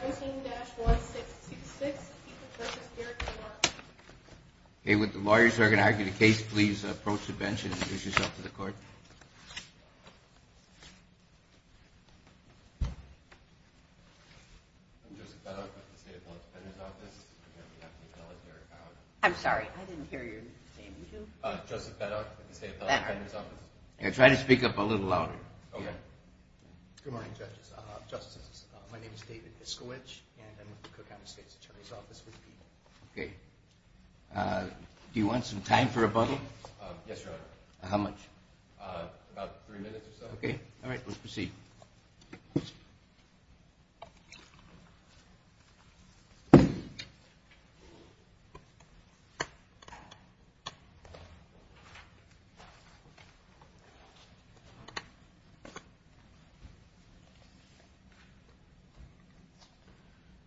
17-1626, Keith versus Derek Balark. Okay, would the lawyers who are going to argue the case please approach the bench and introduce yourself to the court. I'm Joseph Beddock with the State Appellate Defender's Office. On behalf of the appellate, Derek Balark. I'm sorry, I didn't hear you say your name. You do? Joseph Beddock with the State Appellate Defender's Office. Try to speak up a little louder. Good morning, judges, justices. My name is David Iskowich, and I'm with the Cook County State Attorney's Office. Okay. Do you want some time for rebuttal? Yes, Your Honor. How much? About three minutes or so. Okay. All right, let's proceed.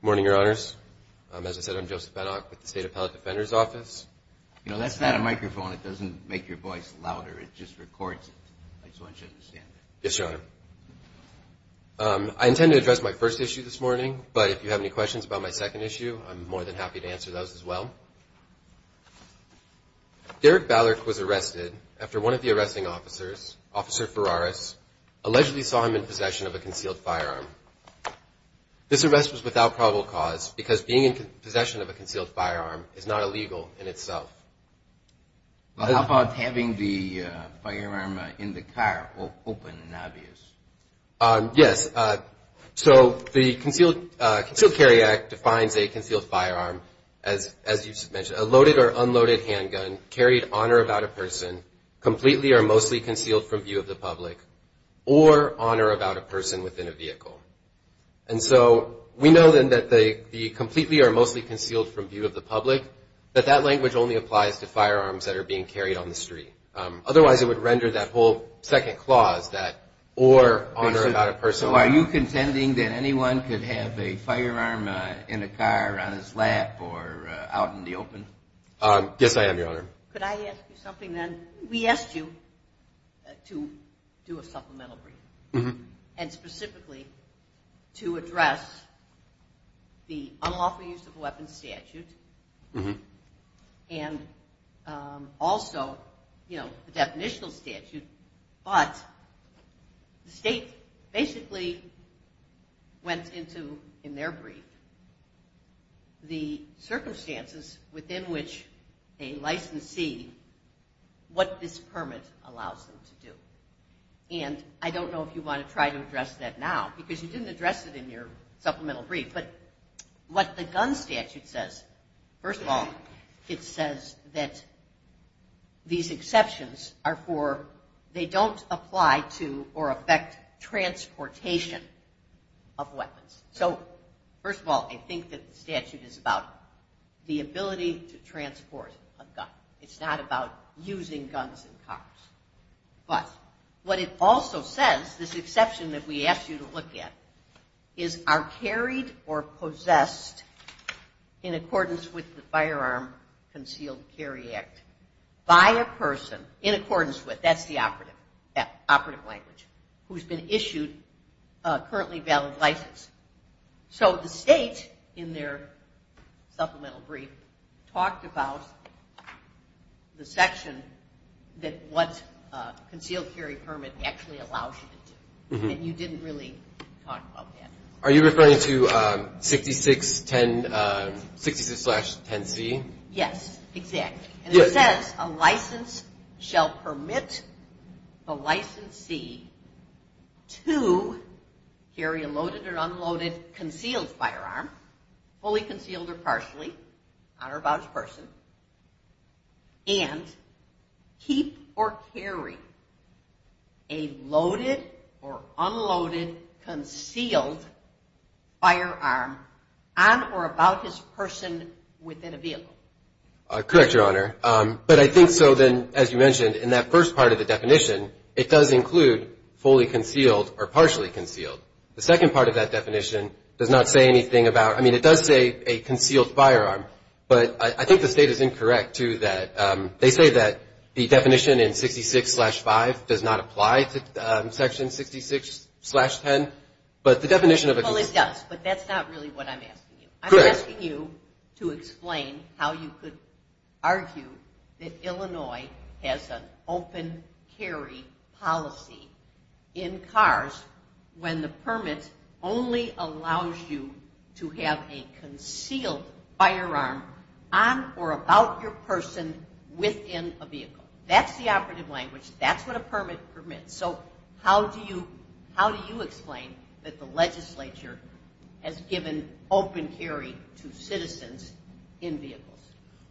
Good morning, Your Honors. As I said, I'm Joseph Beddock with the State Appellate Defender's Office. You know, that's not a microphone. It doesn't make your voice louder. It just records it. I just want you to understand that. Yes, Your Honor. I intend to address my first issue this morning, but if you have any questions about my second issue, I'm more than happy to answer those as well. Derek Ballard was arrested after one of the arresting officers, Officer Ferraris, allegedly saw him in possession of a concealed firearm. This arrest was without probable cause because being in possession of a concealed firearm is not illegal in itself. How about having the firearm in the car open and obvious? Yes. So the Concealed Carry Act defines a concealed firearm as you just mentioned, a loaded or unloaded handgun carried on or about a person, completely or mostly concealed from view of the public, or on or about a person within a vehicle. And so we know then that the completely or mostly concealed from view of the public, that that language only applies to firearms that are being carried on the street. Otherwise, it would render that whole second clause that or on or about a person. So are you contending that anyone could have a firearm in a car on his lap or out in the open? Yes, I am, Your Honor. Could I ask you something then? We asked you to do a supplemental brief and specifically to address the unlawful use of a weapon statute and also the definitional statute, but the state basically went into, in their brief, the circumstances within which a licensee, what this permit allows them to do. And I don't know if you want to try to address that now, because you didn't address it in your supplemental brief. But what the gun statute says, first of all, it says that these exceptions are for, they don't apply to or affect transportation of weapons. So first of all, I think that the statute is about the ability to transport a gun. It's not about using guns in cars. But what it also says, this exception that we asked you to look at, is are carried or possessed in accordance with the Firearm Concealed Carry Act by a person, in accordance with, that's the operative language, who's been issued a currently valid license. So the state, in their supplemental brief, talked about the section that what concealed carry permit actually allows you to do. And you didn't really talk about that. Are you referring to 66-10C? Yes, exactly. And it says a license shall permit the licensee to carry a loaded or unloaded concealed firearm, fully concealed or partially, on or about a person, and keep or carry a loaded or unloaded concealed firearm on or about his person within a vehicle. Correct, Your Honor. But I think so then, as you mentioned, in that first part of the definition, it does include fully concealed or partially concealed. The second part of that definition does not say anything about, I mean, it does say a concealed firearm. But I think the state is incorrect, too, that they say that the definition in 66-5 does not apply to section 66-10. But the definition of a concealed firearm. Well, it does. But that's not really what I'm asking you. Correct. I'm asking you to explain how you could argue that Illinois has an open carry policy in cars when the permit only allows you to have a concealed firearm on or about your person within a vehicle. That's the operative language. That's what a permit permits. So how do you explain that the legislature has given open carry to citizens in vehicles?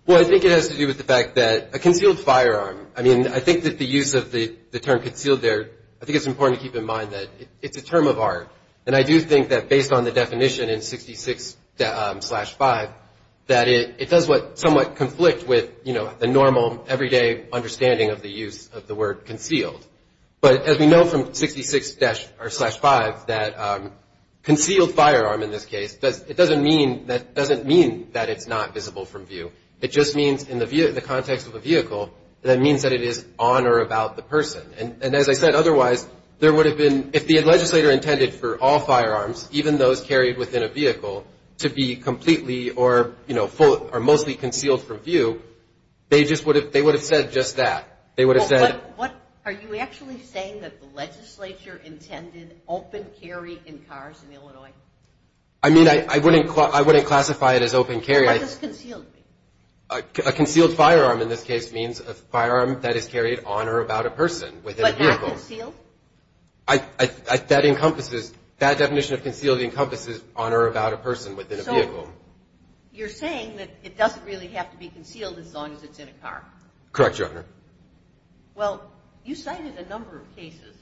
Well, I think it has to do with the fact that a concealed firearm, I mean, I think that the use of the term concealed there, I think it's important to keep in mind that it's a term of art. And I do think that based on the definition in 66-5, that it does somewhat conflict with the normal, everyday understanding of the use of the word concealed. But as we know from 66-5, that concealed firearm in this case, it doesn't mean that it's not visible from view. It just means in the context of a vehicle, that means that it is on or about the person. And as I said otherwise, there would have been, if the legislator intended for all firearms, even those carried within a vehicle, to be completely or mostly concealed from view, they would have said just that. Are you actually saying that the legislature intended open carry in cars in Illinois? I mean, I wouldn't classify it as open carry. What does concealed mean? A concealed firearm in this case means a firearm that is carried on or about a person within a vehicle. But not concealed? That definition of concealed encompasses on or about a person within a vehicle. So you're saying that it doesn't really have to be concealed as long as it's in a car? Correct, Your Honor. Well, you cited a number of cases.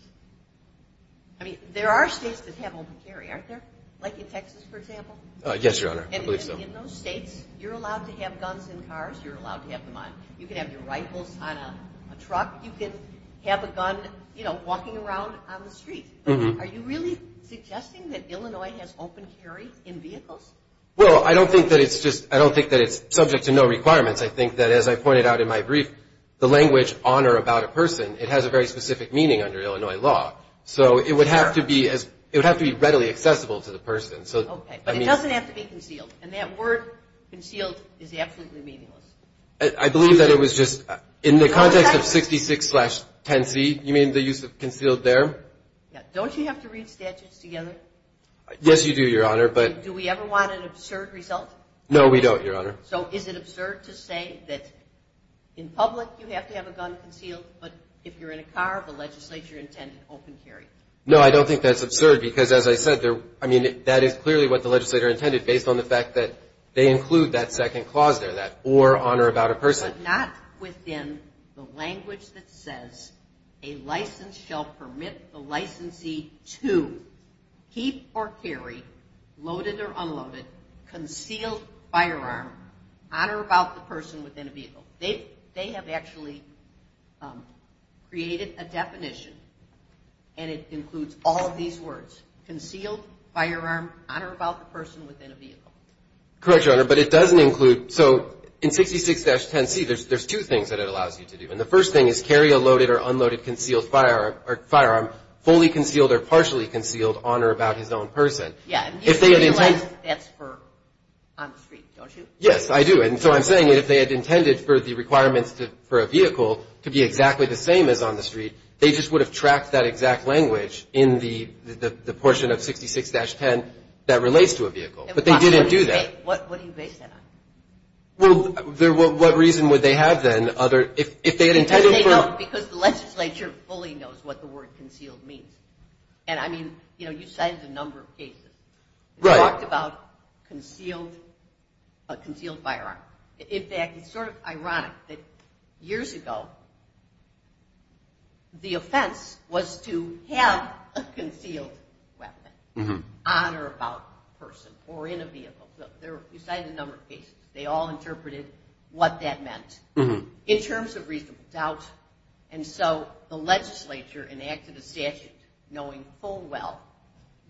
I mean, there are states that have open carry, aren't there, like in Texas, for example? Yes, Your Honor, I believe so. And in those states, you're allowed to have guns in cars, you're allowed to have them on. You can have your rifles on a truck. You can have a gun, you know, walking around on the street. Are you really suggesting that Illinois has open carry in vehicles? Well, I don't think that it's just – I don't think that it's subject to no requirements. I think that, as I pointed out in my brief, the language on or about a person, it has a very specific meaning under Illinois law. So it would have to be readily accessible to the person. Okay, but it doesn't have to be concealed. And that word concealed is absolutely meaningless. I believe that it was just – in the context of 66-10C, you mean the use of concealed there? Don't you have to read statutes together? Yes, you do, Your Honor, but – Do we ever want an absurd result? No, we don't, Your Honor. So is it absurd to say that in public you have to have a gun concealed, but if you're in a car, the legislature intended open carry? No, I don't think that's absurd because, as I said, I mean that is clearly what the legislator intended based on the fact that they include that second clause there, that or on or about a person. But not within the language that says a license shall permit the licensee to keep or carry loaded or unloaded concealed firearm on or about the person within a vehicle. They have actually created a definition, and it includes all of these words, concealed firearm on or about the person within a vehicle. Correct, Your Honor, but it doesn't include – so in 66-10C, there's two things that it allows you to do. And the first thing is carry a loaded or unloaded concealed firearm, fully concealed or partially concealed on or about his own person. Yeah, and you realize that's for on the street, don't you? Yes, I do. And so I'm saying that if they had intended for the requirements for a vehicle to be exactly the same as on the street, they just would have tracked that exact language in the portion of 66-10 that relates to a vehicle. But they didn't do that. What do you base that on? Well, what reason would they have then if they had intended for – Because the legislature fully knows what the word concealed means. And, I mean, you know, you cited a number of cases. They talked about a concealed firearm. In fact, it's sort of ironic that years ago the offense was to have a concealed weapon on or about a person or in a vehicle. You cited a number of cases. They all interpreted what that meant. In terms of reasonable doubt, and so the legislature enacted a statute knowing full well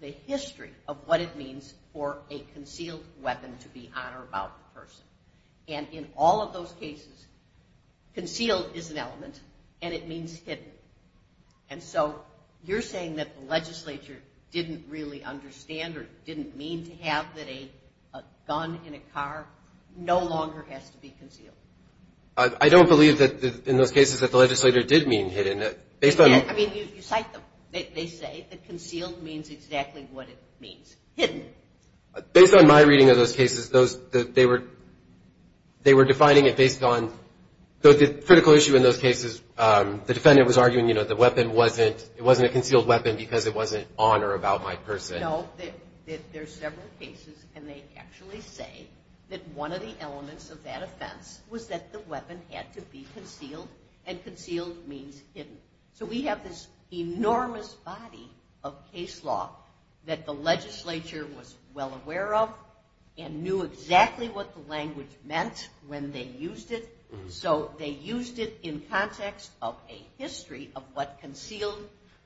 the history of what it means for a concealed weapon to be on or about a person. And in all of those cases, concealed is an element and it means hidden. And so you're saying that the legislature didn't really understand or didn't mean to have that a gun in a car no longer has to be concealed. I don't believe that in those cases that the legislature did mean hidden. I mean, you cite them. They say that concealed means exactly what it means, hidden. Based on my reading of those cases, they were defining it based on – the critical issue in those cases, the defendant was arguing, you know, the weapon wasn't – it wasn't a concealed weapon because it wasn't on or about my person. I know that there's several cases and they actually say that one of the elements of that offense was that the weapon had to be concealed and concealed means hidden. So we have this enormous body of case law that the legislature was well aware of and knew exactly what the language meant when they used it. So they used it in context of a history of what concealed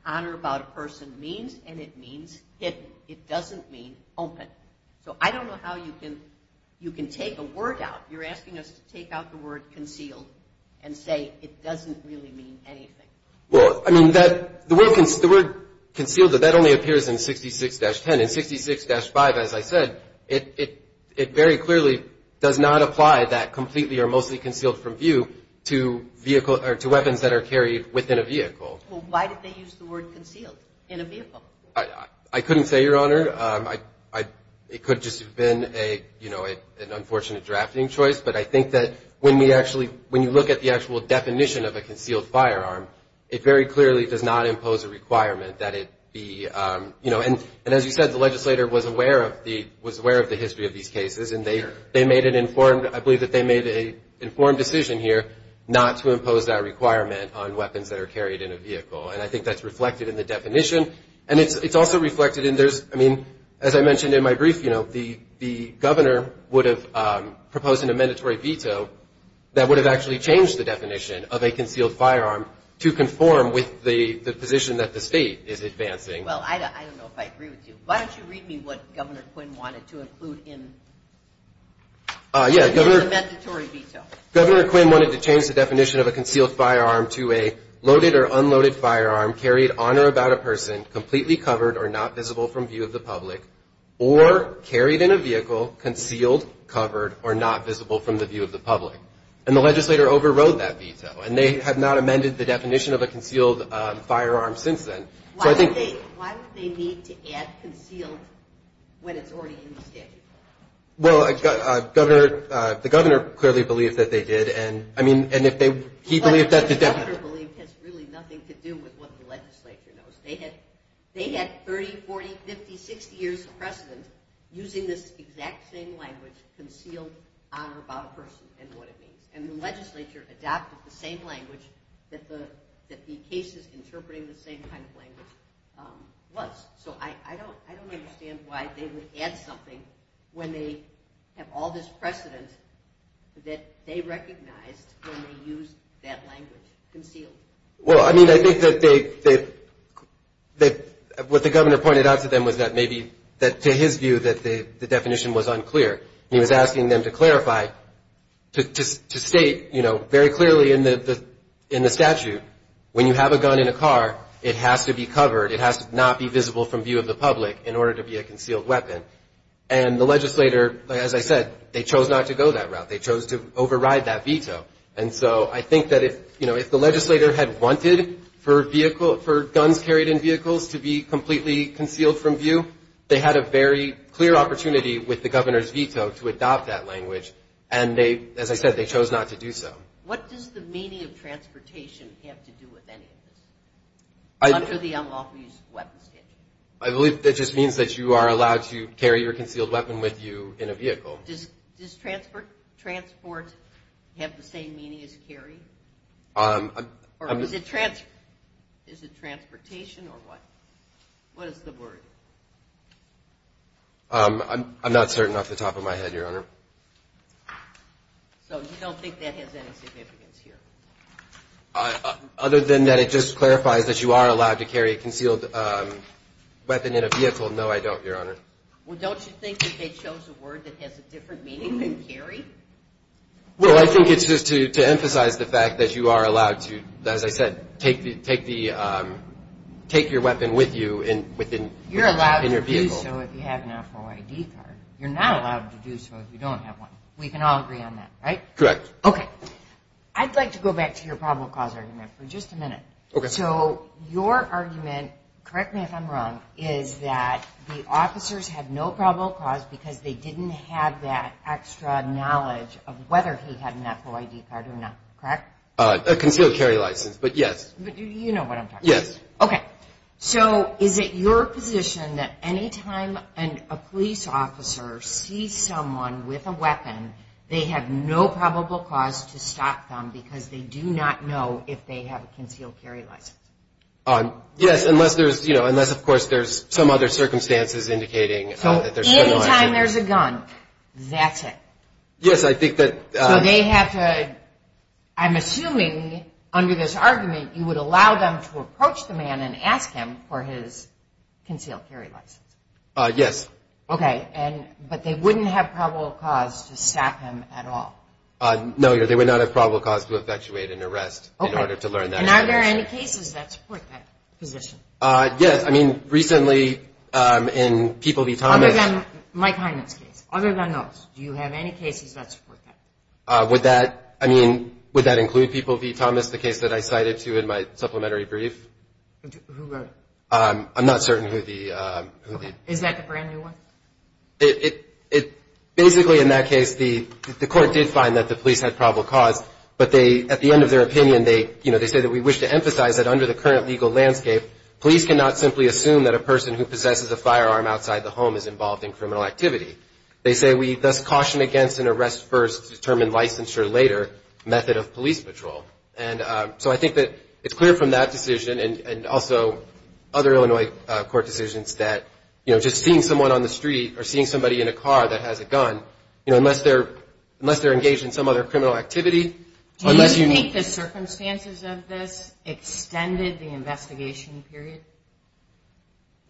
on or about a person means and it means hidden. It doesn't mean open. So I don't know how you can take a word out. You're asking us to take out the word concealed and say it doesn't really mean anything. Well, I mean, the word concealed, that only appears in 66-10. In 66-5, as I said, it very clearly does not apply that completely or mostly concealed from view to weapons that are carried within a vehicle. Well, why did they use the word concealed in a vehicle? I couldn't say, Your Honor. It could just have been an unfortunate drafting choice, but I think that when you look at the actual definition of a concealed firearm, it very clearly does not impose a requirement that it be – and as you said, the legislator was aware of the history of these cases and they made an informed – I believe that they made an informed decision here not to impose that requirement on weapons that are carried in a vehicle. And I think that's reflected in the definition. And it's also reflected in there's – I mean, as I mentioned in my brief, you know, the governor would have proposed an amendatory veto that would have actually changed the definition of a concealed firearm to conform with the position that the state is advancing. Well, I don't know if I agree with you. Why don't you read me what Governor Quinn wanted to include in the amendatory veto. Governor Quinn wanted to change the definition of a concealed firearm to a loaded or unloaded firearm carried on or about a person, completely covered or not visible from view of the public, or carried in a vehicle, concealed, covered, or not visible from the view of the public. And the legislator overrode that veto, and they have not amended the definition of a concealed firearm since then. So I think – Why would they need to add concealed when it's already in the statute? Well, Governor – the governor clearly believes that they did. And, I mean, if they – he believes that the – What the governor believed has really nothing to do with what the legislature knows. They had 30, 40, 50, 60 years of precedent using this exact same language, concealed on or about a person and what it means. And the legislature adopted the same language that the cases interpreting the same kind of language was. So I don't understand why they would add something when they have all this precedent that they recognized when they used that language, concealed. Well, I mean, I think that they – what the governor pointed out to them was that maybe – to his view that the definition was unclear. He was asking them to clarify, to state, you know, very clearly in the statute, when you have a gun in a car, it has to be covered. It has to not be visible from view of the public in order to be a concealed weapon. And the legislator, as I said, they chose not to go that route. They chose to override that veto. And so I think that if, you know, if the legislator had wanted for vehicle – for guns carried in vehicles to be completely concealed from view, they had a very clear opportunity with the governor's veto to adopt that language. And they – as I said, they chose not to do so. What does the meaning of transportation have to do with any of this? Under the unlawful use of weapons statute. I believe that just means that you are allowed to carry your concealed weapon with you in a vehicle. Does transport have the same meaning as carry? Or is it – is it transportation or what? What is the word? I'm not certain off the top of my head, Your Honor. So you don't think that has any significance here? Other than that it just clarifies that you are allowed to carry a concealed weapon in a vehicle. No, I don't, Your Honor. Well, don't you think that they chose a word that has a different meaning than carry? Well, I think it's just to emphasize the fact that you are allowed to, as I said, take the – take your weapon with you in – within your vehicle. You're allowed to do so if you have an FROID card. You're not allowed to do so if you don't have one. We can all agree on that, right? Correct. Okay. I'd like to go back to your probable cause argument for just a minute. Okay. So your argument, correct me if I'm wrong, is that the officers had no probable cause because they didn't have that extra knowledge of whether he had an FROID card or not, correct? A concealed carry license, but yes. But you know what I'm talking about. Yes. Okay. So is it your position that any time a police officer sees someone with a weapon, they have no probable cause to stop them because they do not know if they have a concealed carry license? Yes, unless there's – you know, unless, of course, there's some other circumstances indicating that there's no license. So any time there's a gun, that's it? Yes, I think that – So they have to – I'm assuming, under this argument, you would allow them to approach the man and ask him for his concealed carry license. Yes. Okay. But they wouldn't have probable cause to stop him at all? No, they would not have probable cause to effectuate an arrest in order to learn that information. Okay. And are there any cases that support that position? Yes. I mean, recently in People v. Thomas – Other than Mike Hyman's case. Other than those. Do you have any cases that support that? Would that – I mean, would that include People v. Thomas, the case that I cited to you in my supplementary brief? Who wrote it? I'm not certain who the – Okay. Is that the brand-new one? It – basically, in that case, the court did find that the police had probable cause, but they – at the end of their opinion, they – you know, they say that we wish to emphasize that under the current legal landscape, police cannot simply assume that a person who possesses a firearm outside the home is involved in criminal activity. They say we thus caution against an arrest first, determine licensure later method of police patrol. And so I think that it's clear from that decision and also other Illinois court decisions that, you know, just seeing someone on the street or seeing somebody in a car that has a gun, you know, unless they're – unless they're engaged in some other criminal activity, unless you – Do you think the circumstances of this extended the investigation period?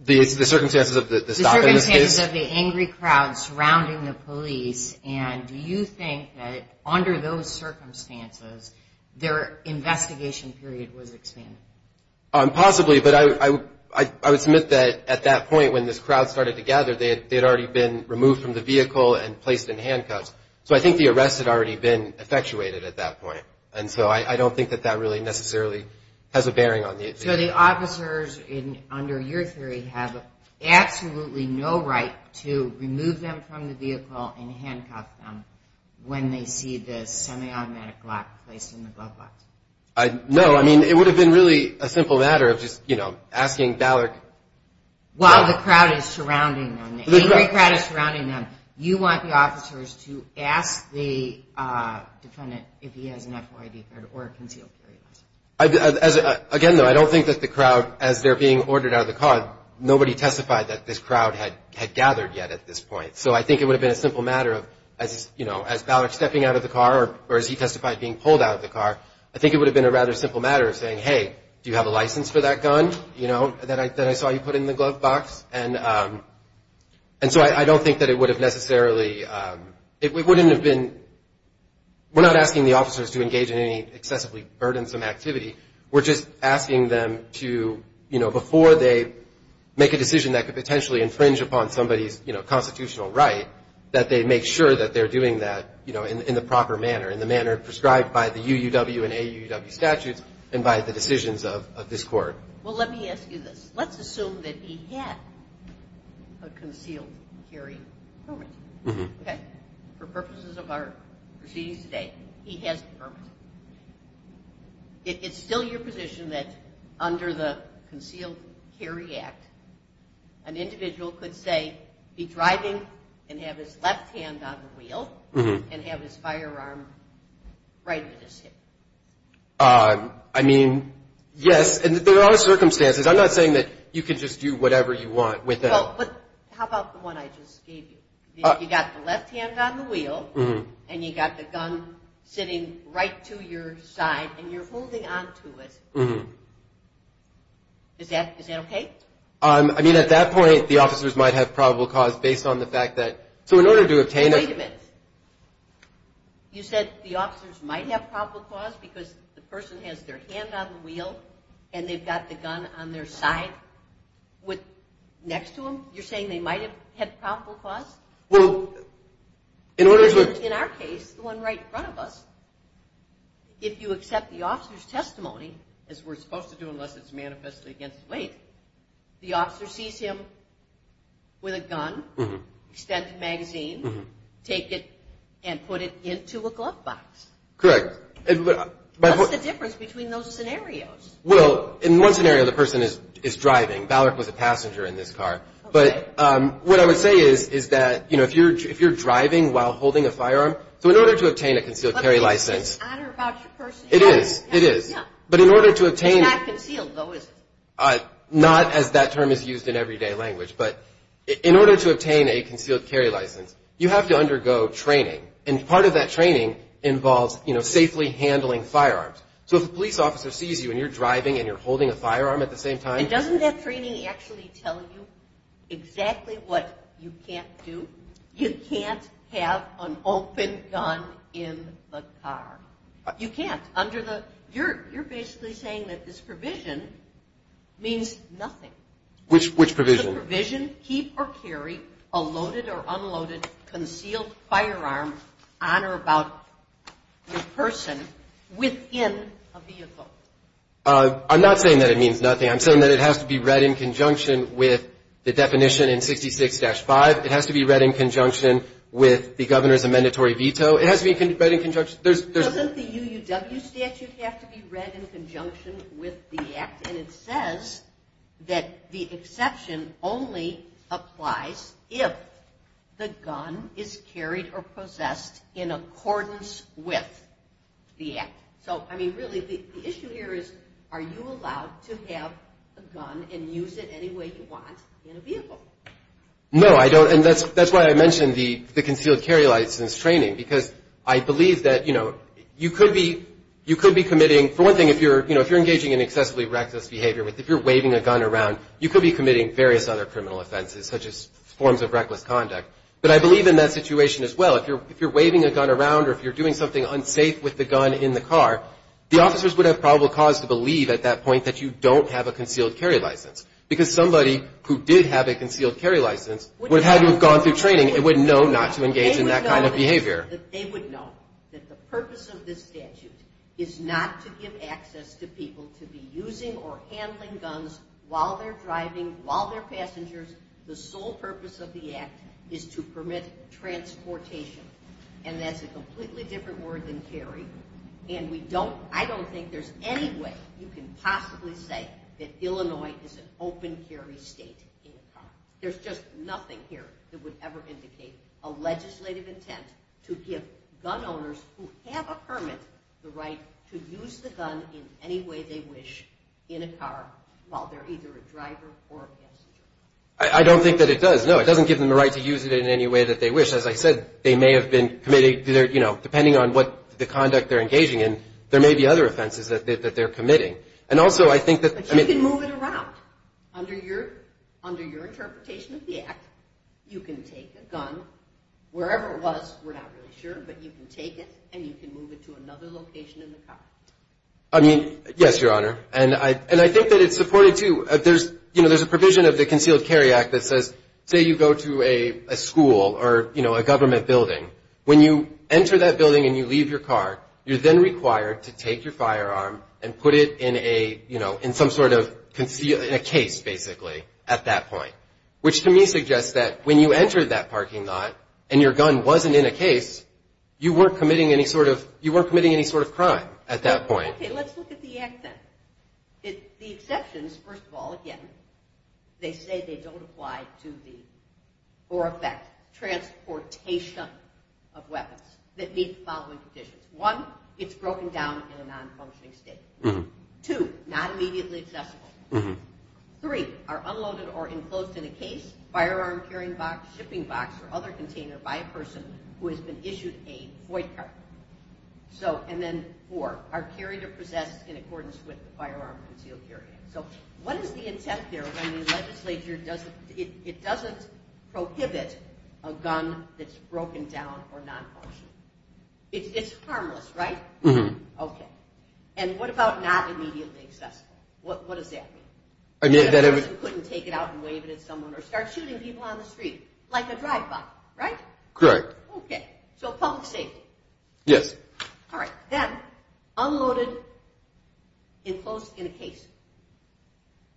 The circumstances of the stop in this case? The circumstances of the angry crowd surrounding the police, and do you think that under those circumstances their investigation period was expanded? Possibly, but I would submit that at that point when this crowd started to gather, they had already been removed from the vehicle and placed in handcuffs. So I think the arrest had already been effectuated at that point. And so I don't think that that really necessarily has a bearing on the – So the officers under your theory have absolutely no right to remove them from the vehicle and handcuff them when they see the semi-automatic lock placed in the glove box? No, I mean, it would have been really a simple matter of just, you know, asking Ballard – While the crowd is surrounding them, the angry crowd is surrounding them, you want the officers to ask the defendant if he has an FOIA-deferred or a concealed carry license? Again, though, I don't think that the crowd, as they're being ordered out of the car, nobody testified that this crowd had gathered yet at this point. So I think it would have been a simple matter of, you know, as Ballard's stepping out of the car or as he testified being pulled out of the car, I think it would have been a rather simple matter of saying, hey, do you have a license for that gun, you know, that I saw you put in the glove box? And so I don't think that it would have necessarily – it wouldn't have been – we're not asking the officers to engage in any excessively burdensome activity. We're just asking them to, you know, before they make a decision that could potentially infringe upon somebody's, you know, constitutional right, that they make sure that they're doing that, you know, in the proper manner, in the manner prescribed by the UUW and AUW statutes and by the decisions of this court. Well, let me ask you this. Let's assume that he had a concealed carry permit. Okay? For purposes of our proceedings today, he has a permit. Is it still your position that under the Concealed Carry Act, an individual could say, be driving and have his left hand on the wheel and have his firearm right at his hip? I mean, yes, and there are circumstances. I'm not saying that you can just do whatever you want with it. Well, but how about the one I just gave you? You got the left hand on the wheel, and you got the gun sitting right to your side, and you're holding on to it. Is that okay? I mean, at that point, the officers might have probable cause based on the fact that – so in order to obtain a – Wait a minute. You said the officers might have probable cause because the person has their hand on the wheel, and they've got the gun on their side next to them? You're saying they might have had probable cause? Well, in order to – In our case, the one right in front of us, if you accept the officer's testimony, as we're supposed to do unless it's manifestly against the weight, the officer sees him with a gun, extended magazine, take it, and put it into a glove box. Correct. What's the difference between those scenarios? Well, in one scenario, the person is driving. Ballard was a passenger in this car. But what I would say is that if you're driving while holding a firearm – so in order to obtain a concealed carry license – But doesn't it matter about your personality? It is. It is. Yeah. But in order to obtain – It's not concealed, though, is it? Not as that term is used in everyday language. But in order to obtain a concealed carry license, you have to undergo training. And part of that training involves, you know, safely handling firearms. So if a police officer sees you and you're driving and you're holding a firearm at the same time – And doesn't that training actually tell you exactly what you can't do? You can't have an open gun in the car. You can't. Under the – you're basically saying that this provision means nothing. Which provision? Keep or carry a loaded or unloaded concealed firearm on or about the person within a vehicle. I'm not saying that it means nothing. I'm saying that it has to be read in conjunction with the definition in 66-5. It has to be read in conjunction with the governor's amendatory veto. It has to be read in conjunction – Doesn't the UUW statute have to be read in conjunction with the act? And it says that the exception only applies if the gun is carried or possessed in accordance with the act. So, I mean, really the issue here is are you allowed to have a gun and use it any way you want in a vehicle? No, I don't. And that's why I mentioned the concealed carry license training, because I believe that, you know, you could be committing – for one thing, if you're engaging in excessively reckless behavior, if you're waving a gun around, you could be committing various other criminal offenses, such as forms of reckless conduct. But I believe in that situation as well. If you're waving a gun around or if you're doing something unsafe with the gun in the car, the officers would have probable cause to believe at that point that you don't have a concealed carry license, because somebody who did have a concealed carry license would have had to have gone through training and would know not to engage in that kind of behavior. They would know that the purpose of this statute is not to give access to people to be using or handling guns while they're driving, while they're passengers. The sole purpose of the act is to permit transportation. And that's a completely different word than carry. And we don't – I don't think there's any way you can possibly say that Illinois is an open carry state in the car. There's just nothing here that would ever indicate a legislative intent to give gun owners who have a permit the right to use the gun in any way they wish in a car while they're either a driver or a passenger. I don't think that it does, no. It doesn't give them the right to use it in any way that they wish. As I said, they may have been committing – you know, depending on what the conduct they're engaging in, there may be other offenses that they're committing. And also I think that – But you can move it around. Under your interpretation of the act, you can take a gun, wherever it was, we're not really sure, but you can take it and you can move it to another location in the car. I mean, yes, Your Honor. And I think that it's supported, too. There's a provision of the Concealed Carry Act that says, say you go to a school or a government building. When you enter that building and you leave your car, you're then required to take your firearm and put it in a – you know, in some sort of concealed – in a case, basically, at that point. Which to me suggests that when you enter that parking lot and your gun wasn't in a case, you weren't committing any sort of – you weren't committing any sort of crime at that point. Okay, let's look at the act then. The exceptions, first of all, again, they say they don't apply to the – or affect transportation of weapons that meet the following conditions. One, it's broken down in a non-functioning state. Two, not immediately accessible. Three, are unloaded or enclosed in a case, firearm carrying box, shipping box, or other container by a person who has been issued a void card. So – and then four, are carried or possessed in accordance with the Firearm Concealed Carry Act. So what is the intent there when the legislature doesn't – it doesn't prohibit a gun that's broken down or non-functioning? It's harmless, right? Mm-hmm. Okay. And what about not immediately accessible? What does that mean? In other words, you couldn't take it out and wave it at someone or start shooting people on the street like a drive-by, right? Correct. Okay. So public safety. Yes. All right. Then unloaded, enclosed in a case,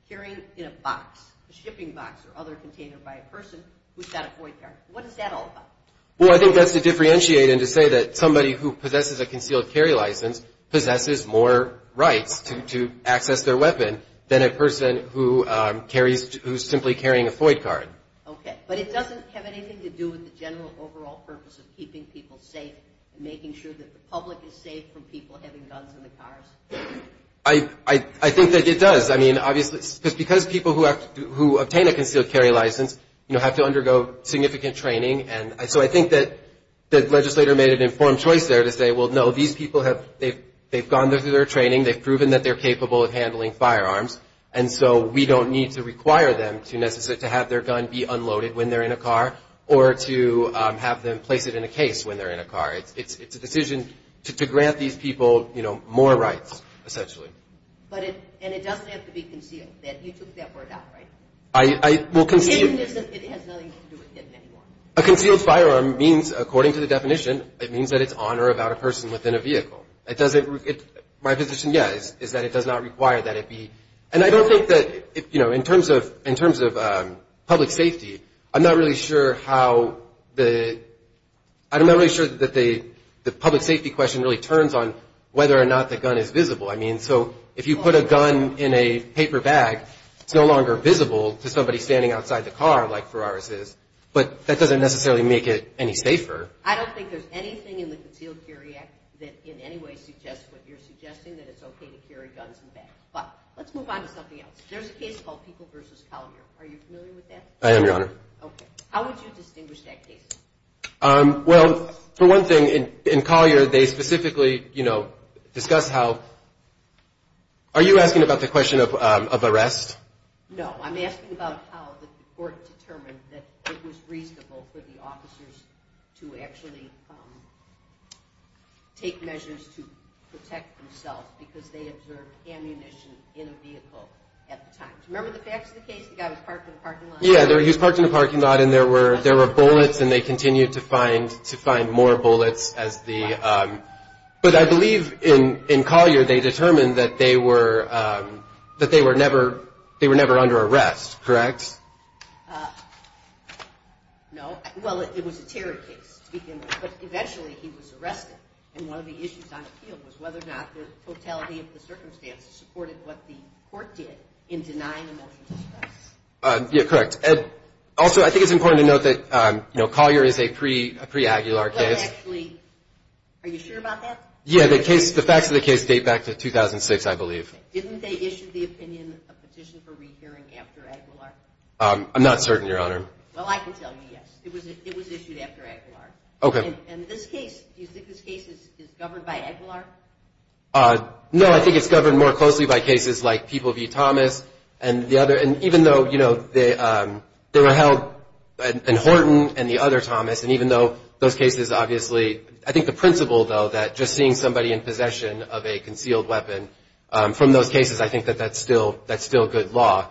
carrying in a box, a shipping box or other container by a person who's got a void card. What is that all about? Well, I think that's to differentiate and to say that somebody who possesses a concealed carry license possesses more rights to access their weapon than a person who carries – who's simply carrying a void card. Okay. But it doesn't have anything to do with the general overall purpose of keeping people safe and making sure that the public is safe from people having guns in the cars? I think that it does. I mean, obviously – because people who have – who obtain a concealed carry license, you know, have to undergo significant training, and so I think that the legislator made an informed choice there to say, well, no, these people have – they've gone through their training, they've proven that they're capable of handling firearms, and so we don't need to require them to have their gun be unloaded when they're in a car or to have them place it in a case when they're in a car. It's a decision to grant these people, you know, more rights, essentially. But it – and it doesn't have to be concealed. You took that word out, right? It has nothing to do with it anymore. A concealed firearm means – according to the definition, it means that it's on or about a person within a vehicle. It doesn't – my position, yes, is that it does not require that it be – and I don't think that – you know, in terms of public safety, I'm not really sure how the – I'm not really sure that the public safety question really turns on whether or not the gun is visible. I mean, so if you put a gun in a paper bag, it's no longer visible to somebody standing outside the car like Ferraris is, but that doesn't necessarily make it any safer. I don't think there's anything in the Concealed Carry Act that in any way suggests what you're suggesting, that it's okay to carry guns in bags. But let's move on to something else. There's a case called Pico v. Collier. Are you familiar with that? I am, Your Honor. Okay. How would you distinguish that case? Well, for one thing, in Collier, they specifically, you know, discuss how – are you asking about the question of arrest? No, I'm asking about how the court determined that it was reasonable for the officers to actually take measures to protect themselves because they observed ammunition in a vehicle at the time. Do you remember the facts of the case? The guy was parked in a parking lot? And there were bullets, and they continued to find more bullets as the – but I believe in Collier they determined that they were never under arrest, correct? No. Well, it was a terror case to begin with, but eventually he was arrested, and one of the issues on appeal was whether or not the totality of the circumstances supported what the court did in denying emotional distress. Yeah, correct. Also, I think it's important to note that, you know, Collier is a pre-Aguilar case. Well, actually, are you sure about that? Yeah, the facts of the case date back to 2006, I believe. Didn't they issue the opinion of petition for rehearing after Aguilar? I'm not certain, Your Honor. Well, I can tell you yes. It was issued after Aguilar. And this case, do you think this case is governed by Aguilar? No, I think it's governed more closely by cases like People v. Thomas and even though, you know, they were held – and Horton and the other Thomas, and even though those cases obviously – I think the principle, though, that just seeing somebody in possession of a concealed weapon from those cases, I think that that's still good law.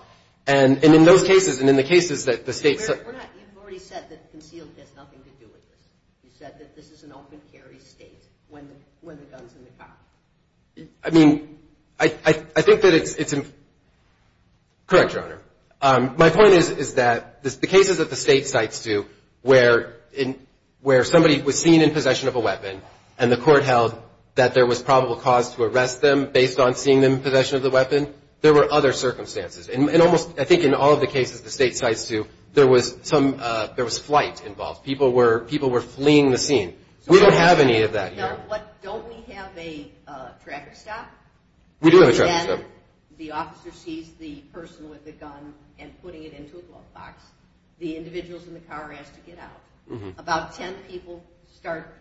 And in those cases and in the cases that the state – You've already said that concealed has nothing to do with this. You said that this is an open carry state when the gun's in the car. I mean, I think that it's – correct, Your Honor. My point is that the cases that the state cites to where somebody was seen in possession of a weapon and the court held that there was probable cause to arrest them based on seeing them in possession of the weapon, there were other circumstances. And almost – I think in all of the cases the state cites to, there was some – there was flight involved. People were fleeing the scene. We don't have any of that here. Don't we have a tracker stop? We do have a tracker stop. The officer sees the person with the gun and putting it into a glove box, the individuals in the car are asked to get out. About 10 people start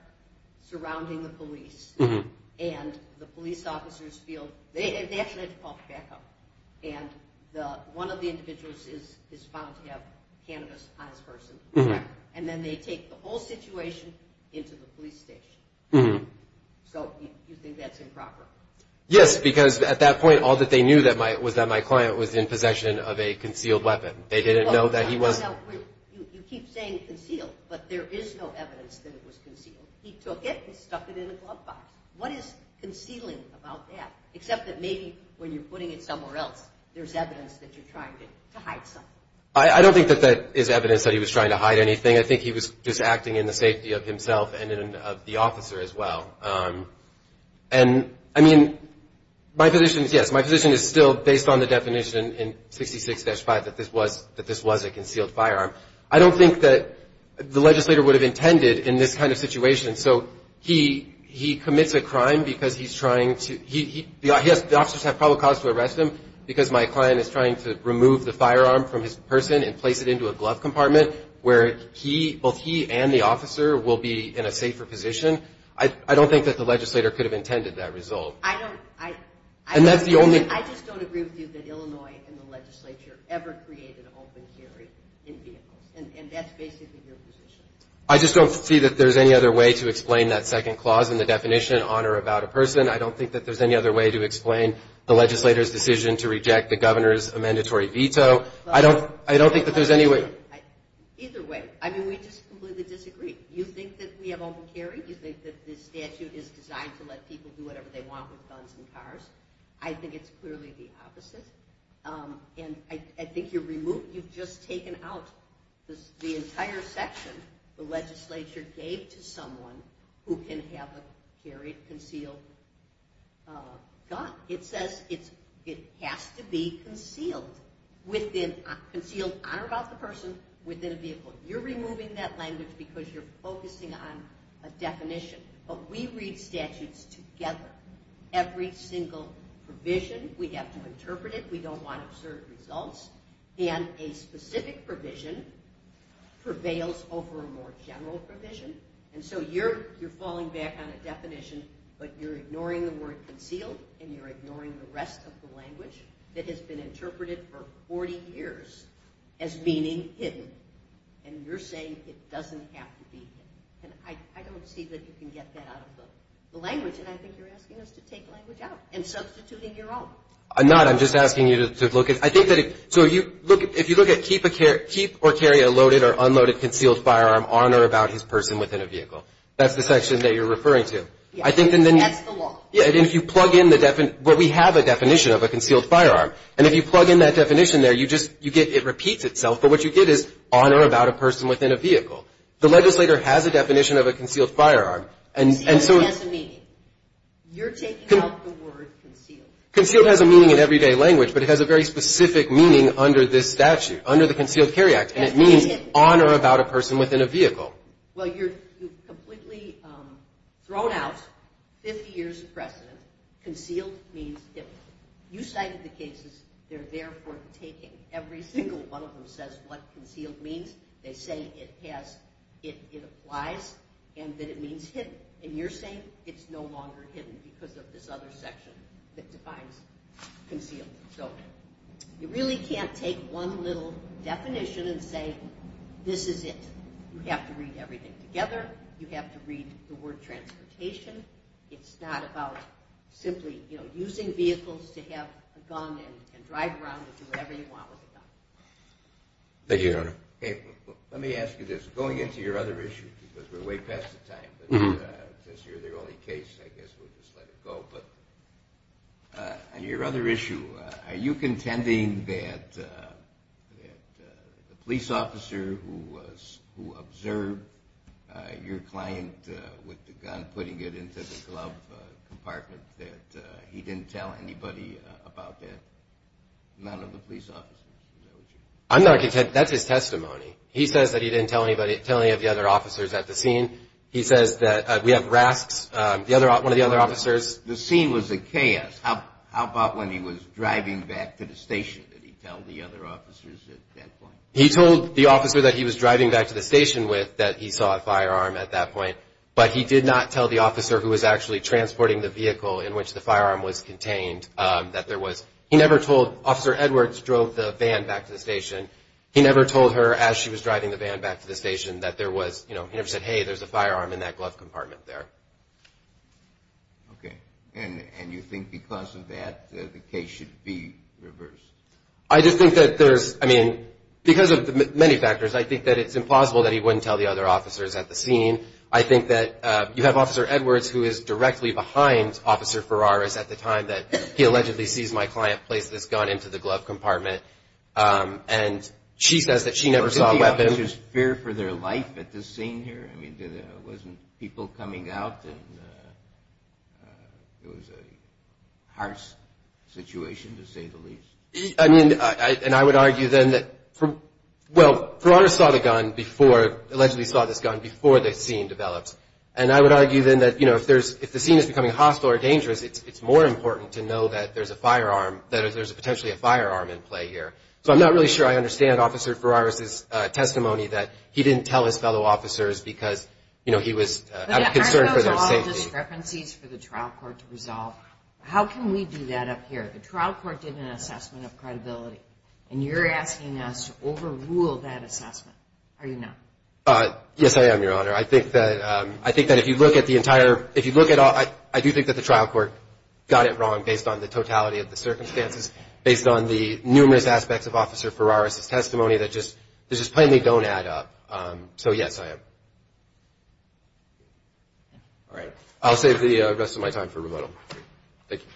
surrounding the police. And the police officers feel – they actually had to call backup. And one of the individuals is found to have cannabis on his person. And then they take the whole situation into the police station. So you think that's improper? Yes, because at that point all that they knew was that my client was in possession of a concealed weapon. They didn't know that he was – You keep saying concealed, but there is no evidence that it was concealed. He took it and stuck it in a glove box. What is concealing about that? Except that maybe when you're putting it somewhere else, there's evidence that you're trying to hide something. I don't think that that is evidence that he was trying to hide anything. I think he was just acting in the safety of himself and of the officer as well. And, I mean, my position is, yes, my position is still based on the definition in 66-5 that this was a concealed firearm. I don't think that the legislator would have intended in this kind of situation. So he commits a crime because he's trying to – the officers have probable cause to arrest him because my client is trying to remove the firearm from his person and place it into a glove compartment where he – both he and the officer will be in a safer position. I don't think that the legislator could have intended that result. I don't – I – And that's the only – I just don't agree with you that Illinois and the legislature ever created open carry in vehicles. And that's basically your position. I just don't see that there's any other way to explain that second clause and the definition on or about a person. I don't think that there's any other way to explain the legislator's decision to reject the governor's mandatory veto. I don't think that there's any way – Either way. I mean, we just completely disagree. You think that we have open carry. You think that this statute is designed to let people do whatever they want with guns and cars. I think it's clearly the opposite. And I think you're – you've just taken out the entire section the legislature gave to someone who can have a carried, concealed gun. It says it has to be concealed within – concealed on or about the person within a vehicle. You're removing that language because you're focusing on a definition. But we read statutes together. Every single provision, we have to interpret it. We don't want absurd results. And a specific provision prevails over a more general provision. And so you're falling back on a definition, but you're ignoring the word concealed, and you're ignoring the rest of the language that has been interpreted for 40 years as meaning hidden. And you're saying it doesn't have to be hidden. And I don't see that you can get that out of the language, and I think you're asking us to take the language out and substituting your own. I'm not. I'm just asking you to look at – I think that if – so if you look at keep or carry a loaded or unloaded concealed firearm on or about his person within a vehicle, that's the section that you're referring to. That's the law. And if you plug in the – we have a definition of a concealed firearm. And if you plug in that definition there, you just – you get – it repeats itself. But what you get is on or about a person within a vehicle. The legislator has a definition of a concealed firearm. Concealed has a meaning. You're taking out the word concealed. Concealed has a meaning in everyday language, but it has a very specific meaning under this statute, under the Concealed Carry Act. And it means on or about a person within a vehicle. Well, you've completely thrown out 50 years of precedent. Concealed means hidden. You cited the cases. They're there for the taking. Every single one of them says what concealed means. They say it has – it applies and that it means hidden. And you're saying it's no longer hidden because of this other section that defines concealed. So you really can't take one little definition and say this is it. You have to read everything together. You have to read the word transportation. It's not about simply, you know, using vehicles to have a gun and drive around and do whatever you want with a gun. Thank you, Your Honor. Let me ask you this. Going into your other issue, because we're way past the time, but since you're the only case, I guess we'll just let it go. On your other issue, are you contending that the police officer who observed your client with the gun putting it into the glove compartment, that he didn't tell anybody about that? None of the police officers. I'm not contending. That's his testimony. He says that he didn't tell anybody, tell any of the other officers at the scene. He says that we have Rasks, one of the other officers. The scene was a chaos. How about when he was driving back to the station? Did he tell the other officers at that point? He told the officer that he was driving back to the station with that he saw a firearm at that point, but he did not tell the officer who was actually transporting the vehicle in which the firearm was contained that there was – he never told – Officer Edwards drove the van back to the station. He never told her as she was driving the van back to the station that there was, you know, he never said, hey, there's a firearm in that glove compartment there. Okay. And you think because of that the case should be reversed? I just think that there's – I mean, because of many factors, I think that it's impossible that he wouldn't tell the other officers at the scene. I think that you have Officer Edwards who is directly behind Officer Ferraris at the time that he allegedly sees my client place this gun into the glove compartment, and she says that she never saw a weapon. Was there fear for their life at this scene here? I mean, wasn't people coming out, and it was a harsh situation to say the least? I mean, and I would argue then that – well, Ferraris saw the gun before – allegedly saw this gun before the scene developed, and I would argue then that, you know, if the scene is becoming hostile or dangerous, it's more important to know that there's a firearm, that there's potentially a firearm in play here. So I'm not really sure I understand Officer Ferraris' testimony that he didn't tell his fellow officers because, you know, he was concerned for their safety. Aren't those all discrepancies for the trial court to resolve? How can we do that up here? The trial court did an assessment of credibility, and you're asking us to overrule that assessment. Are you not? Yes, I am, Your Honor. I think that if you look at the entire – if you look at – I do think that the trial court got it wrong based on the totality of the circumstances, based on the numerous aspects of Officer Ferraris' testimony that just plainly don't add up. So, yes, I am. All right. I'll save the rest of my time for rebuttal. Thank you.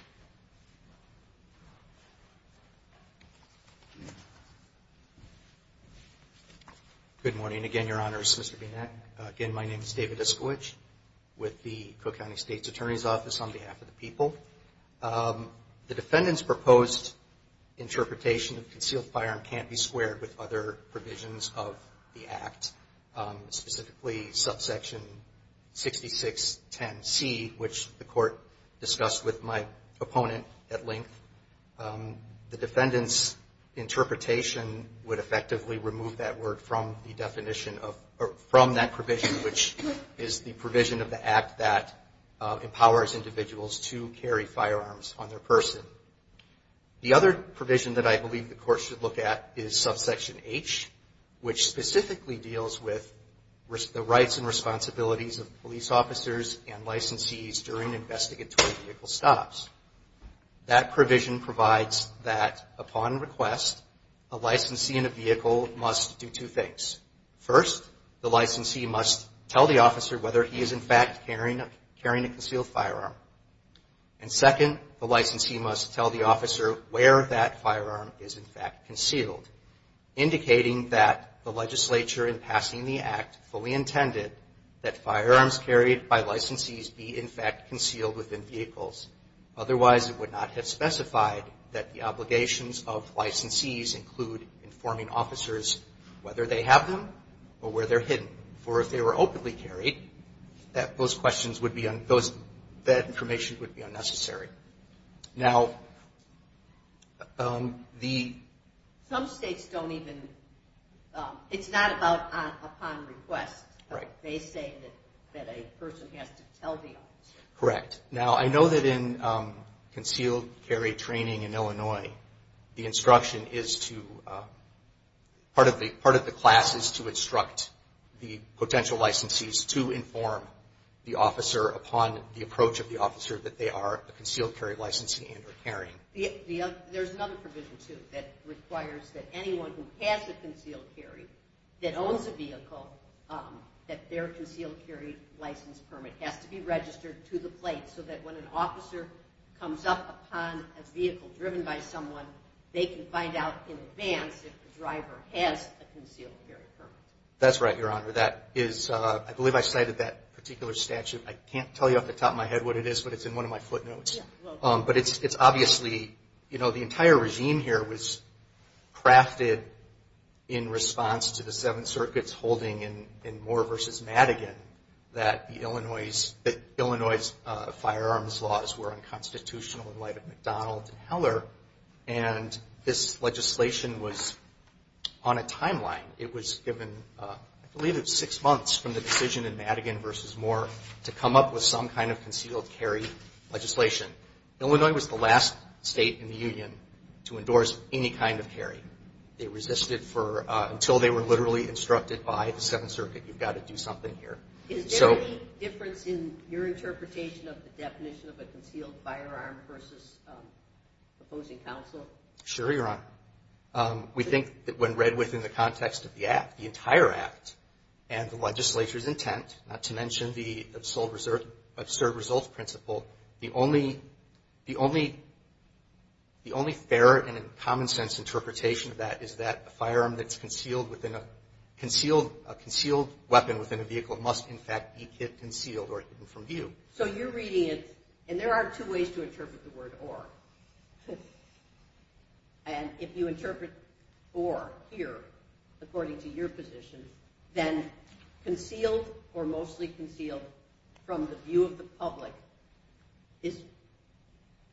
Good morning again, Your Honors, Mr. Bienak. Again, my name is David Iskowich with the Cook County State's Attorney's Office on behalf of the people. The defendant's proposed interpretation of concealed firearm can't be squared with other provisions of the Act, specifically subsection 6610C, which the court discussed with my opponent at length. The defendant's interpretation would effectively remove that word from that provision, which is the provision of the Act that empowers individuals to carry firearms on their person. The other provision that I believe the court should look at is subsection H, which specifically deals with the rights and responsibilities of police officers and licensees during investigatory vehicle stops. That provision provides that, upon request, a licensee in a vehicle must do two things. First, the licensee must tell the officer whether he is, in fact, carrying a concealed firearm. And second, the licensee must tell the officer where that firearm is, in fact, concealed, indicating that the legislature, in passing the Act, fully intended that firearms carried by licensees be, in fact, concealed within vehicles. Otherwise, it would not have specified that the obligations of licensees include informing officers whether they have them or where they're hidden. For if they were openly carried, that information would be unnecessary. Now, the... Some states don't even, it's not about upon request. Right. They say that a person has to tell the officer. Correct. Now, I know that in concealed carry training in Illinois, the instruction is to, part of the class is to instruct the potential licensees to inform the officer that they are a concealed carry licensee and are carrying. There's another provision, too, that requires that anyone who has a concealed carry, that owns a vehicle, that their concealed carry license permit has to be registered to the plate so that when an officer comes up upon a vehicle driven by someone, they can find out in advance if the driver has a concealed carry permit. That's right, Your Honor. That is, I believe I cited that particular statute. I can't tell you off the top of my head what it is, but it's in one of my footnotes. But it's obviously, you know, the entire regime here was crafted in response to the Seven Circuits holding in Moore v. Madigan that Illinois' firearms laws were unconstitutional in light of McDonald and Heller, and this legislation was on a timeline. It was given, I believe it was six months from the decision in Madigan v. Moore to come up with some kind of concealed carry legislation. Illinois was the last state in the Union to endorse any kind of carry. They resisted until they were literally instructed by the Seventh Circuit, you've got to do something here. Is there any difference in your interpretation of the definition of a concealed firearm versus opposing counsel? Sure, Your Honor. We think that when read within the context of the act, the entire act, and the legislature's intent, not to mention the absurd results principle, the only fair and common sense interpretation of that is that a firearm that's concealed within a concealed weapon within a vehicle must, in fact, be concealed or hidden from view. So you're reading it, and there are two ways to interpret the word or. And if you interpret or here according to your position, then concealed or mostly concealed from the view of the public,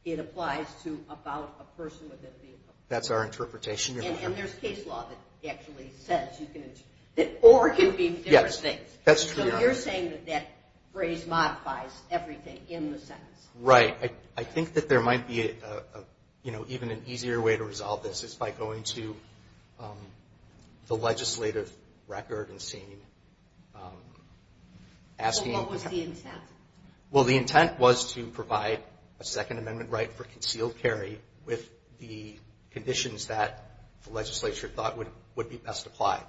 it applies to about a person within a vehicle. That's our interpretation, Your Honor. And there's case law that actually says that or can be different things. Yes, that's true, Your Honor. So you're saying that that phrase modifies everything in the sentence. Right. I think that there might be even an easier way to resolve this is by going to the legislative record and seeing, asking. What was the intent? Well, the intent was to provide a Second Amendment right for concealed carry with the conditions that the legislature thought would be best applied.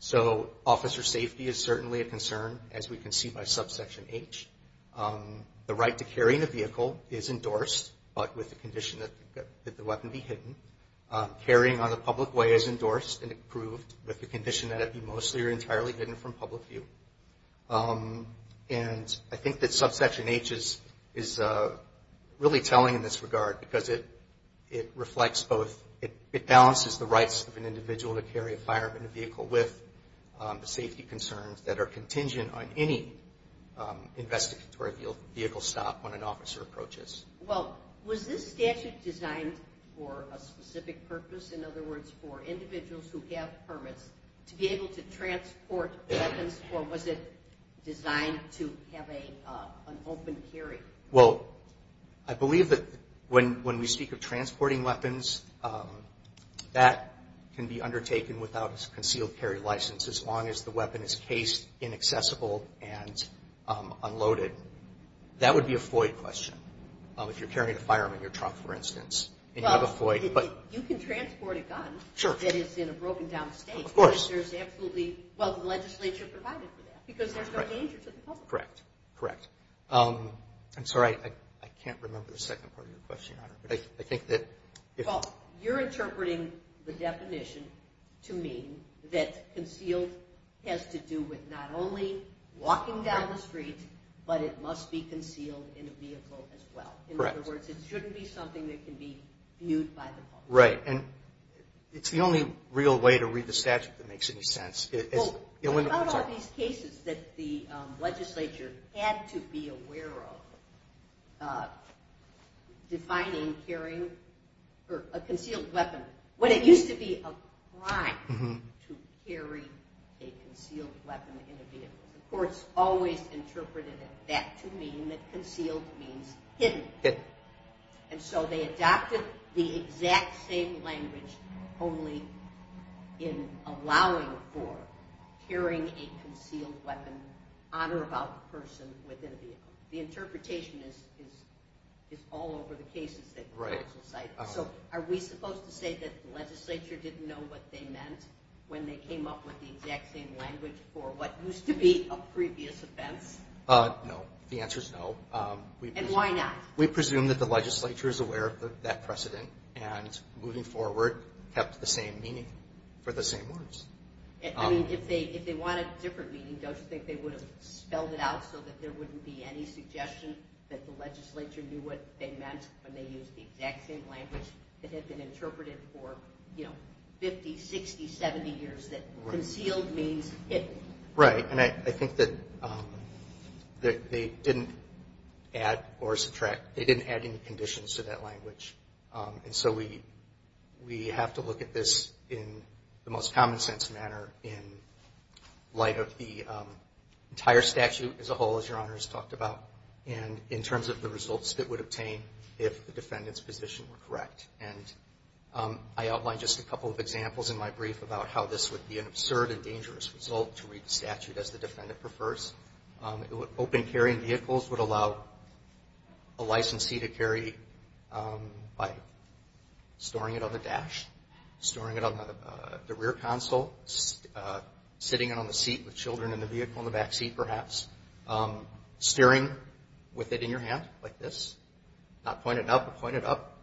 So officer safety is certainly a concern, as we can see by subsection H. The right to carry in a vehicle is endorsed, but with the condition that the weapon be hidden. Carrying on the public way is endorsed and approved with the condition that it be mostly or entirely hidden from public view. And I think that subsection H is really telling in this regard because it reflects both. It balances the rights of an individual to carry a firearm in a vehicle with the safety concerns that are contingent on any investigatory vehicle stop when an officer approaches. Well, was this statute designed for a specific purpose? In other words, for individuals who have permits to be able to transport weapons, or was it designed to have an open carry? Well, I believe that when we speak of transporting weapons, that can be undertaken without a concealed carry license as long as the weapon is cased, inaccessible, and unloaded. That would be a FOIA question. If you're carrying a firearm in your truck, for instance, and you have a FOIA. Well, you can transport a gun that is in a broken-down state. Of course. But there's absolutely, well, the legislature provided for that because there's no danger to the public. Correct, correct. Well, you're interpreting the definition to mean that concealed has to do with not only walking down the street, but it must be concealed in a vehicle as well. Correct. In other words, it shouldn't be something that can be viewed by the public. Right, and it's the only real way to read the statute that makes any sense. What about all these cases that the legislature had to be aware of defining carrying a concealed weapon when it used to be a crime to carry a concealed weapon in a vehicle? The courts always interpreted that to mean that concealed means hidden. Hidden. And so they adopted the exact same language only in allowing for carrying a concealed weapon on or about a person within a vehicle. The interpretation is all over the cases that the courts cited. So are we supposed to say that the legislature didn't know what they meant when they came up with the exact same language for what used to be a previous offense? No, the answer is no. And why not? We presume that the legislature is aware of that precedent and, moving forward, kept the same meaning for the same words. I mean, if they wanted a different meaning, don't you think they would have spelled it out so that there wouldn't be any suggestion that the legislature knew what they meant when they used the exact same language that had been interpreted for, you know, 50, 60, 70 years that concealed means hidden? Right. And I think that they didn't add or subtract, they didn't add any conditions to that language. And so we have to look at this in the most common sense manner in light of the entire statute as a whole, as Your Honors talked about, and in terms of the results that would obtain if the defendant's position were correct. And I outlined just a couple of examples in my brief about how this would be an absurd and dangerous result to read the statute as the defendant prefers. Open carrying vehicles would allow a licensee to carry by storing it on the dash, storing it on the rear console, sitting it on the seat with children in the vehicle in the back seat perhaps, steering with it in your hand like this, not point it up but point it up.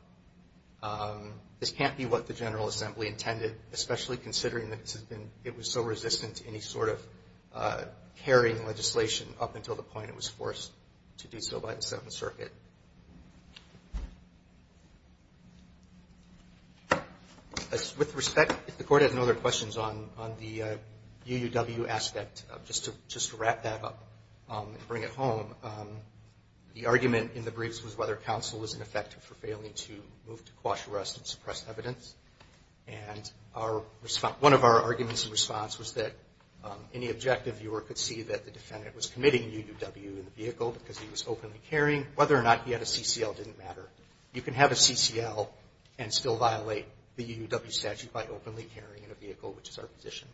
This can't be what the General Assembly intended, especially considering that it was so resistant to any sort of carrying legislation up until the point it was forced to do so by the Seventh Circuit. With respect, if the Court has no other questions on the UUW aspect, just to wrap that up and bring it home, the argument in the briefs was whether counsel was in effect for failing to move to quash arrest and suppress evidence. And one of our arguments in response was that any objective viewer could see that the defendant was committing a UUW in the vehicle because he was openly carrying. Whether or not he had a CCL didn't matter. You can have a CCL and still violate the UUW statute by openly carrying in a vehicle, which is our position.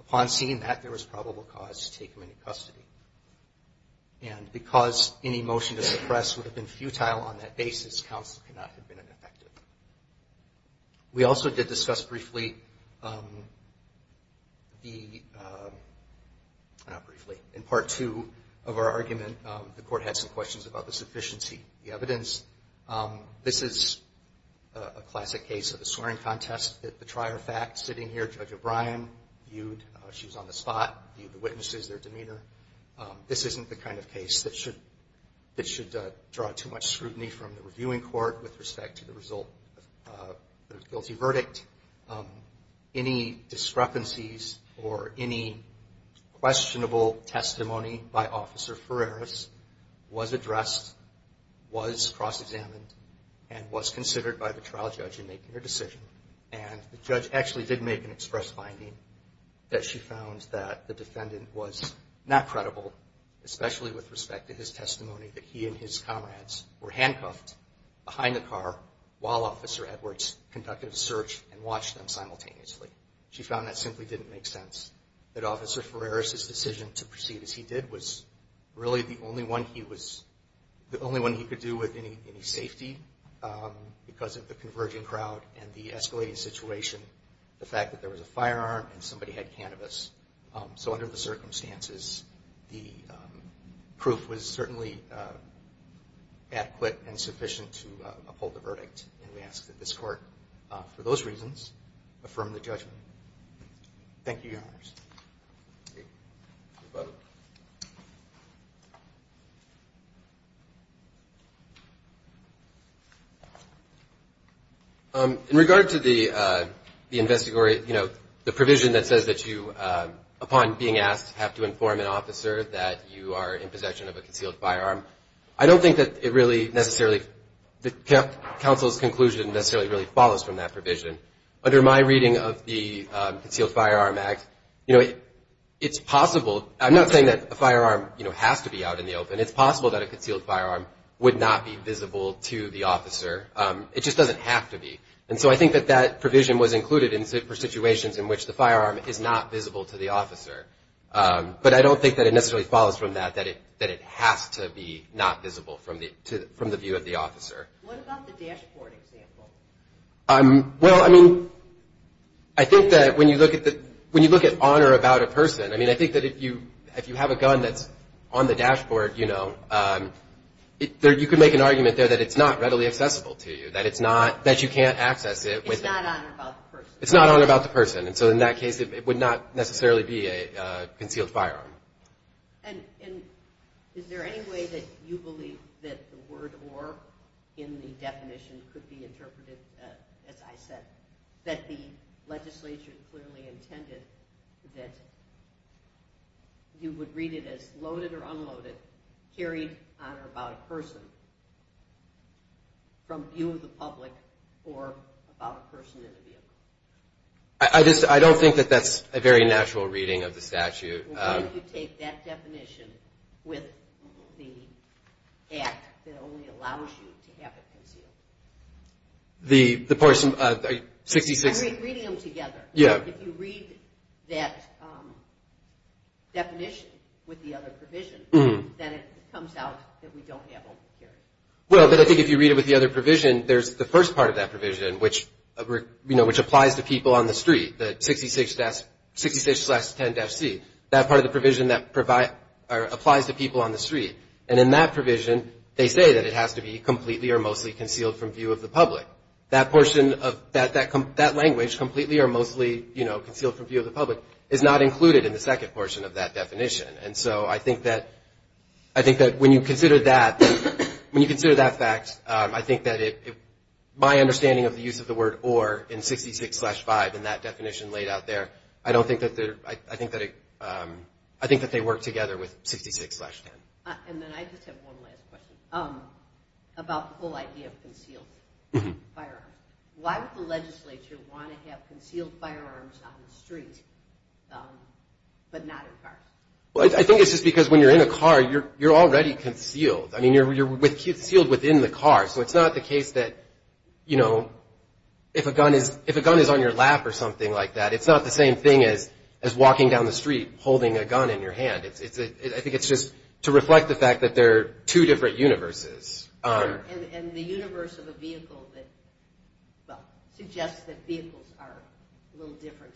Upon seeing that, there was probable cause to take him into custody. And because any motion to suppress would have been futile on that basis, counsel could not have been ineffective. We also did discuss briefly the, not briefly, in Part 2 of our argument, the Court had some questions about the sufficiency of the evidence. This is a classic case of a swearing contest at the trier fact. Sitting here, Judge O'Brien viewed, she was on the spot, viewed the witnesses, their demeanor. This isn't the kind of case that should draw too much scrutiny from the reviewing court with respect to the result of the guilty verdict. Any discrepancies or any questionable testimony by Officer Ferreris was addressed, was cross-examined, and was considered by the trial judge in making her decision. And the judge actually did make an express finding that she found that the defendant was not credible, especially with respect to his testimony that he and his comrades were handcuffed behind the car while Officer Edwards conducted a search and watched them simultaneously. She found that simply didn't make sense, that Officer Ferreris' decision to proceed as he did was really the only one he was, the only one he could do with any safety because of the converging crowd and the escalating situation, the fact that there was a firearm and somebody had cannabis. So under the circumstances, the proof was certainly adequate and sufficient to uphold the verdict. And we ask that this Court, for those reasons, affirm the judgment. Thank you. In regard to the investigation, you know, the provision that says that you, upon being asked, have to inform an officer that you are in possession of a concealed firearm, I don't think that it really necessarily, that counsel's conclusion necessarily really follows from that provision. Under my reading of the Concealed Firearm Act, you know, it's possible, I'm not saying that a firearm, you know, has to be out in the open. It's possible that a concealed firearm would not be visible to the officer. It just doesn't have to be. And so I think that that provision was included for situations in which the firearm is not visible to the officer. But I don't think that it necessarily follows from that, that it has to be not visible from the view of the officer. What about the dashboard example? Well, I mean, I think that when you look at honor about a person, I mean, I think that if you have a gun that's on the dashboard, you know, you could make an argument there that it's not readily accessible to you, that it's not, that you can't access it. It's not honor about the person. It's not honor about the person. And so in that case, it would not necessarily be a concealed firearm. And is there any way that you believe that the word or in the definition could be interpreted, as I said, that the legislature clearly intended that you would read it as loaded or unloaded, carried on or about a person from view of the public or about a person in a vehicle? I just, I don't think that that's a very natural reading of the statute. Well, why would you take that definition with the act that only allows you to have it concealed? The person, 66. I mean, reading them together. Yeah. If you read that definition with the other provision, then it comes out that we don't have over-carrying. Well, but I think if you read it with the other provision, there's the first part of that provision, which applies to people on the street, that 66-10-C, that part of the provision that applies to people on the street. And in that provision, they say that it has to be completely or mostly concealed from view of the public. That portion of that language, completely or mostly concealed from view of the public, is not included in the second portion of that definition. And so I think that when you consider that fact, I think that my understanding of the use of the word or in 66-5 and that definition laid out there, I don't think that they're, I think that they work together with 66-10. And then I just have one last question about the whole idea of concealed firearms. Why would the legislature want to have concealed firearms on the street but not in cars? Well, I think it's just because when you're in a car, you're already concealed. I mean, you're concealed within the car. So it's not the case that, you know, if a gun is on your lap or something like that, it's not the same thing as walking down the street holding a gun in your hand. I think it's just to reflect the fact that there are two different universes. And the universe of a vehicle that suggests that vehicles are a little different.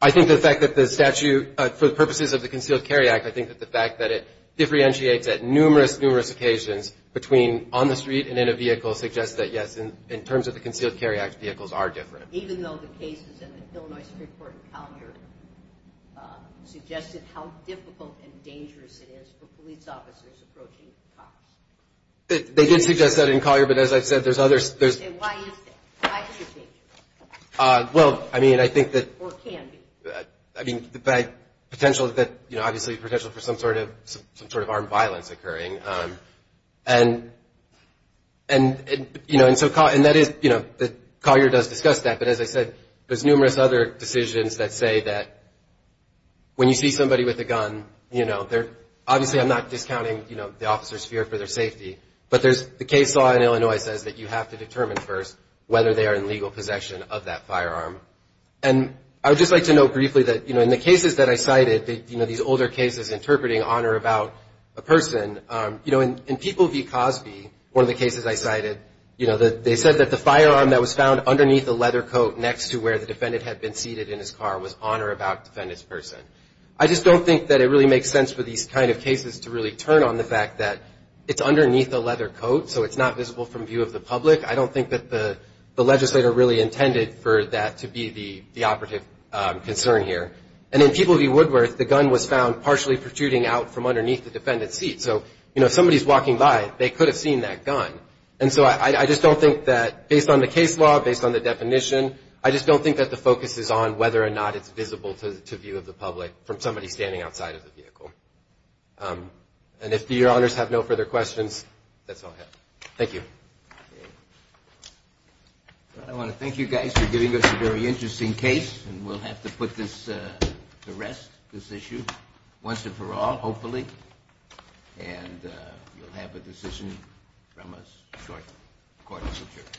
I think the fact that the statute, for the purposes of the Concealed Carry Act, I think that the fact that it differentiates at numerous, numerous occasions between on the street and in a vehicle suggests that, yes, in terms of the Concealed Carry Act, vehicles are different. Even though the cases in the Illinois Supreme Court in Collier suggested how difficult and dangerous it is for police officers approaching cops? They did suggest that in Collier, but as I've said, there's others. Why is that? Why is it dangerous? Well, I mean, I think that, I mean, the potential that, you know, obviously the potential for some sort of armed violence occurring. And, you know, and so Collier does discuss that, but as I said, there's numerous other decisions that say that when you see somebody with a gun, you know, obviously I'm not discounting, you know, the officer's fear for their safety, but there's the case law in Illinois says that you have to determine first whether they are in legal possession of that firearm. And I would just like to note briefly that, you know, in the cases that I cited, you know, these older cases interpreting on or about a person, you know, in People v. Cosby, one of the cases I cited, you know, they said that the firearm that was found underneath a leather coat next to where the defendant had been seated in his car was on or about the defendant's person. I just don't think that it really makes sense for these kind of cases to really turn on the fact that it's underneath a leather coat, so it's not visible from view of the public. I don't think that the legislator really intended for that to be the operative concern here. And in People v. Woodworth, the gun was found partially protruding out from underneath the defendant's seat. So, you know, if somebody's walking by, they could have seen that gun. And so I just don't think that based on the case law, based on the definition, I just don't think that the focus is on whether or not it's visible to view of the public from somebody standing outside of the vehicle. And if Your Honors have no further questions, that's all I have. Thank you. Well, I want to thank you guys for giving us a very interesting case, and we'll have to put this to rest, this issue, once and for all, hopefully. And you'll have a decision from us shortly. Court is adjourned.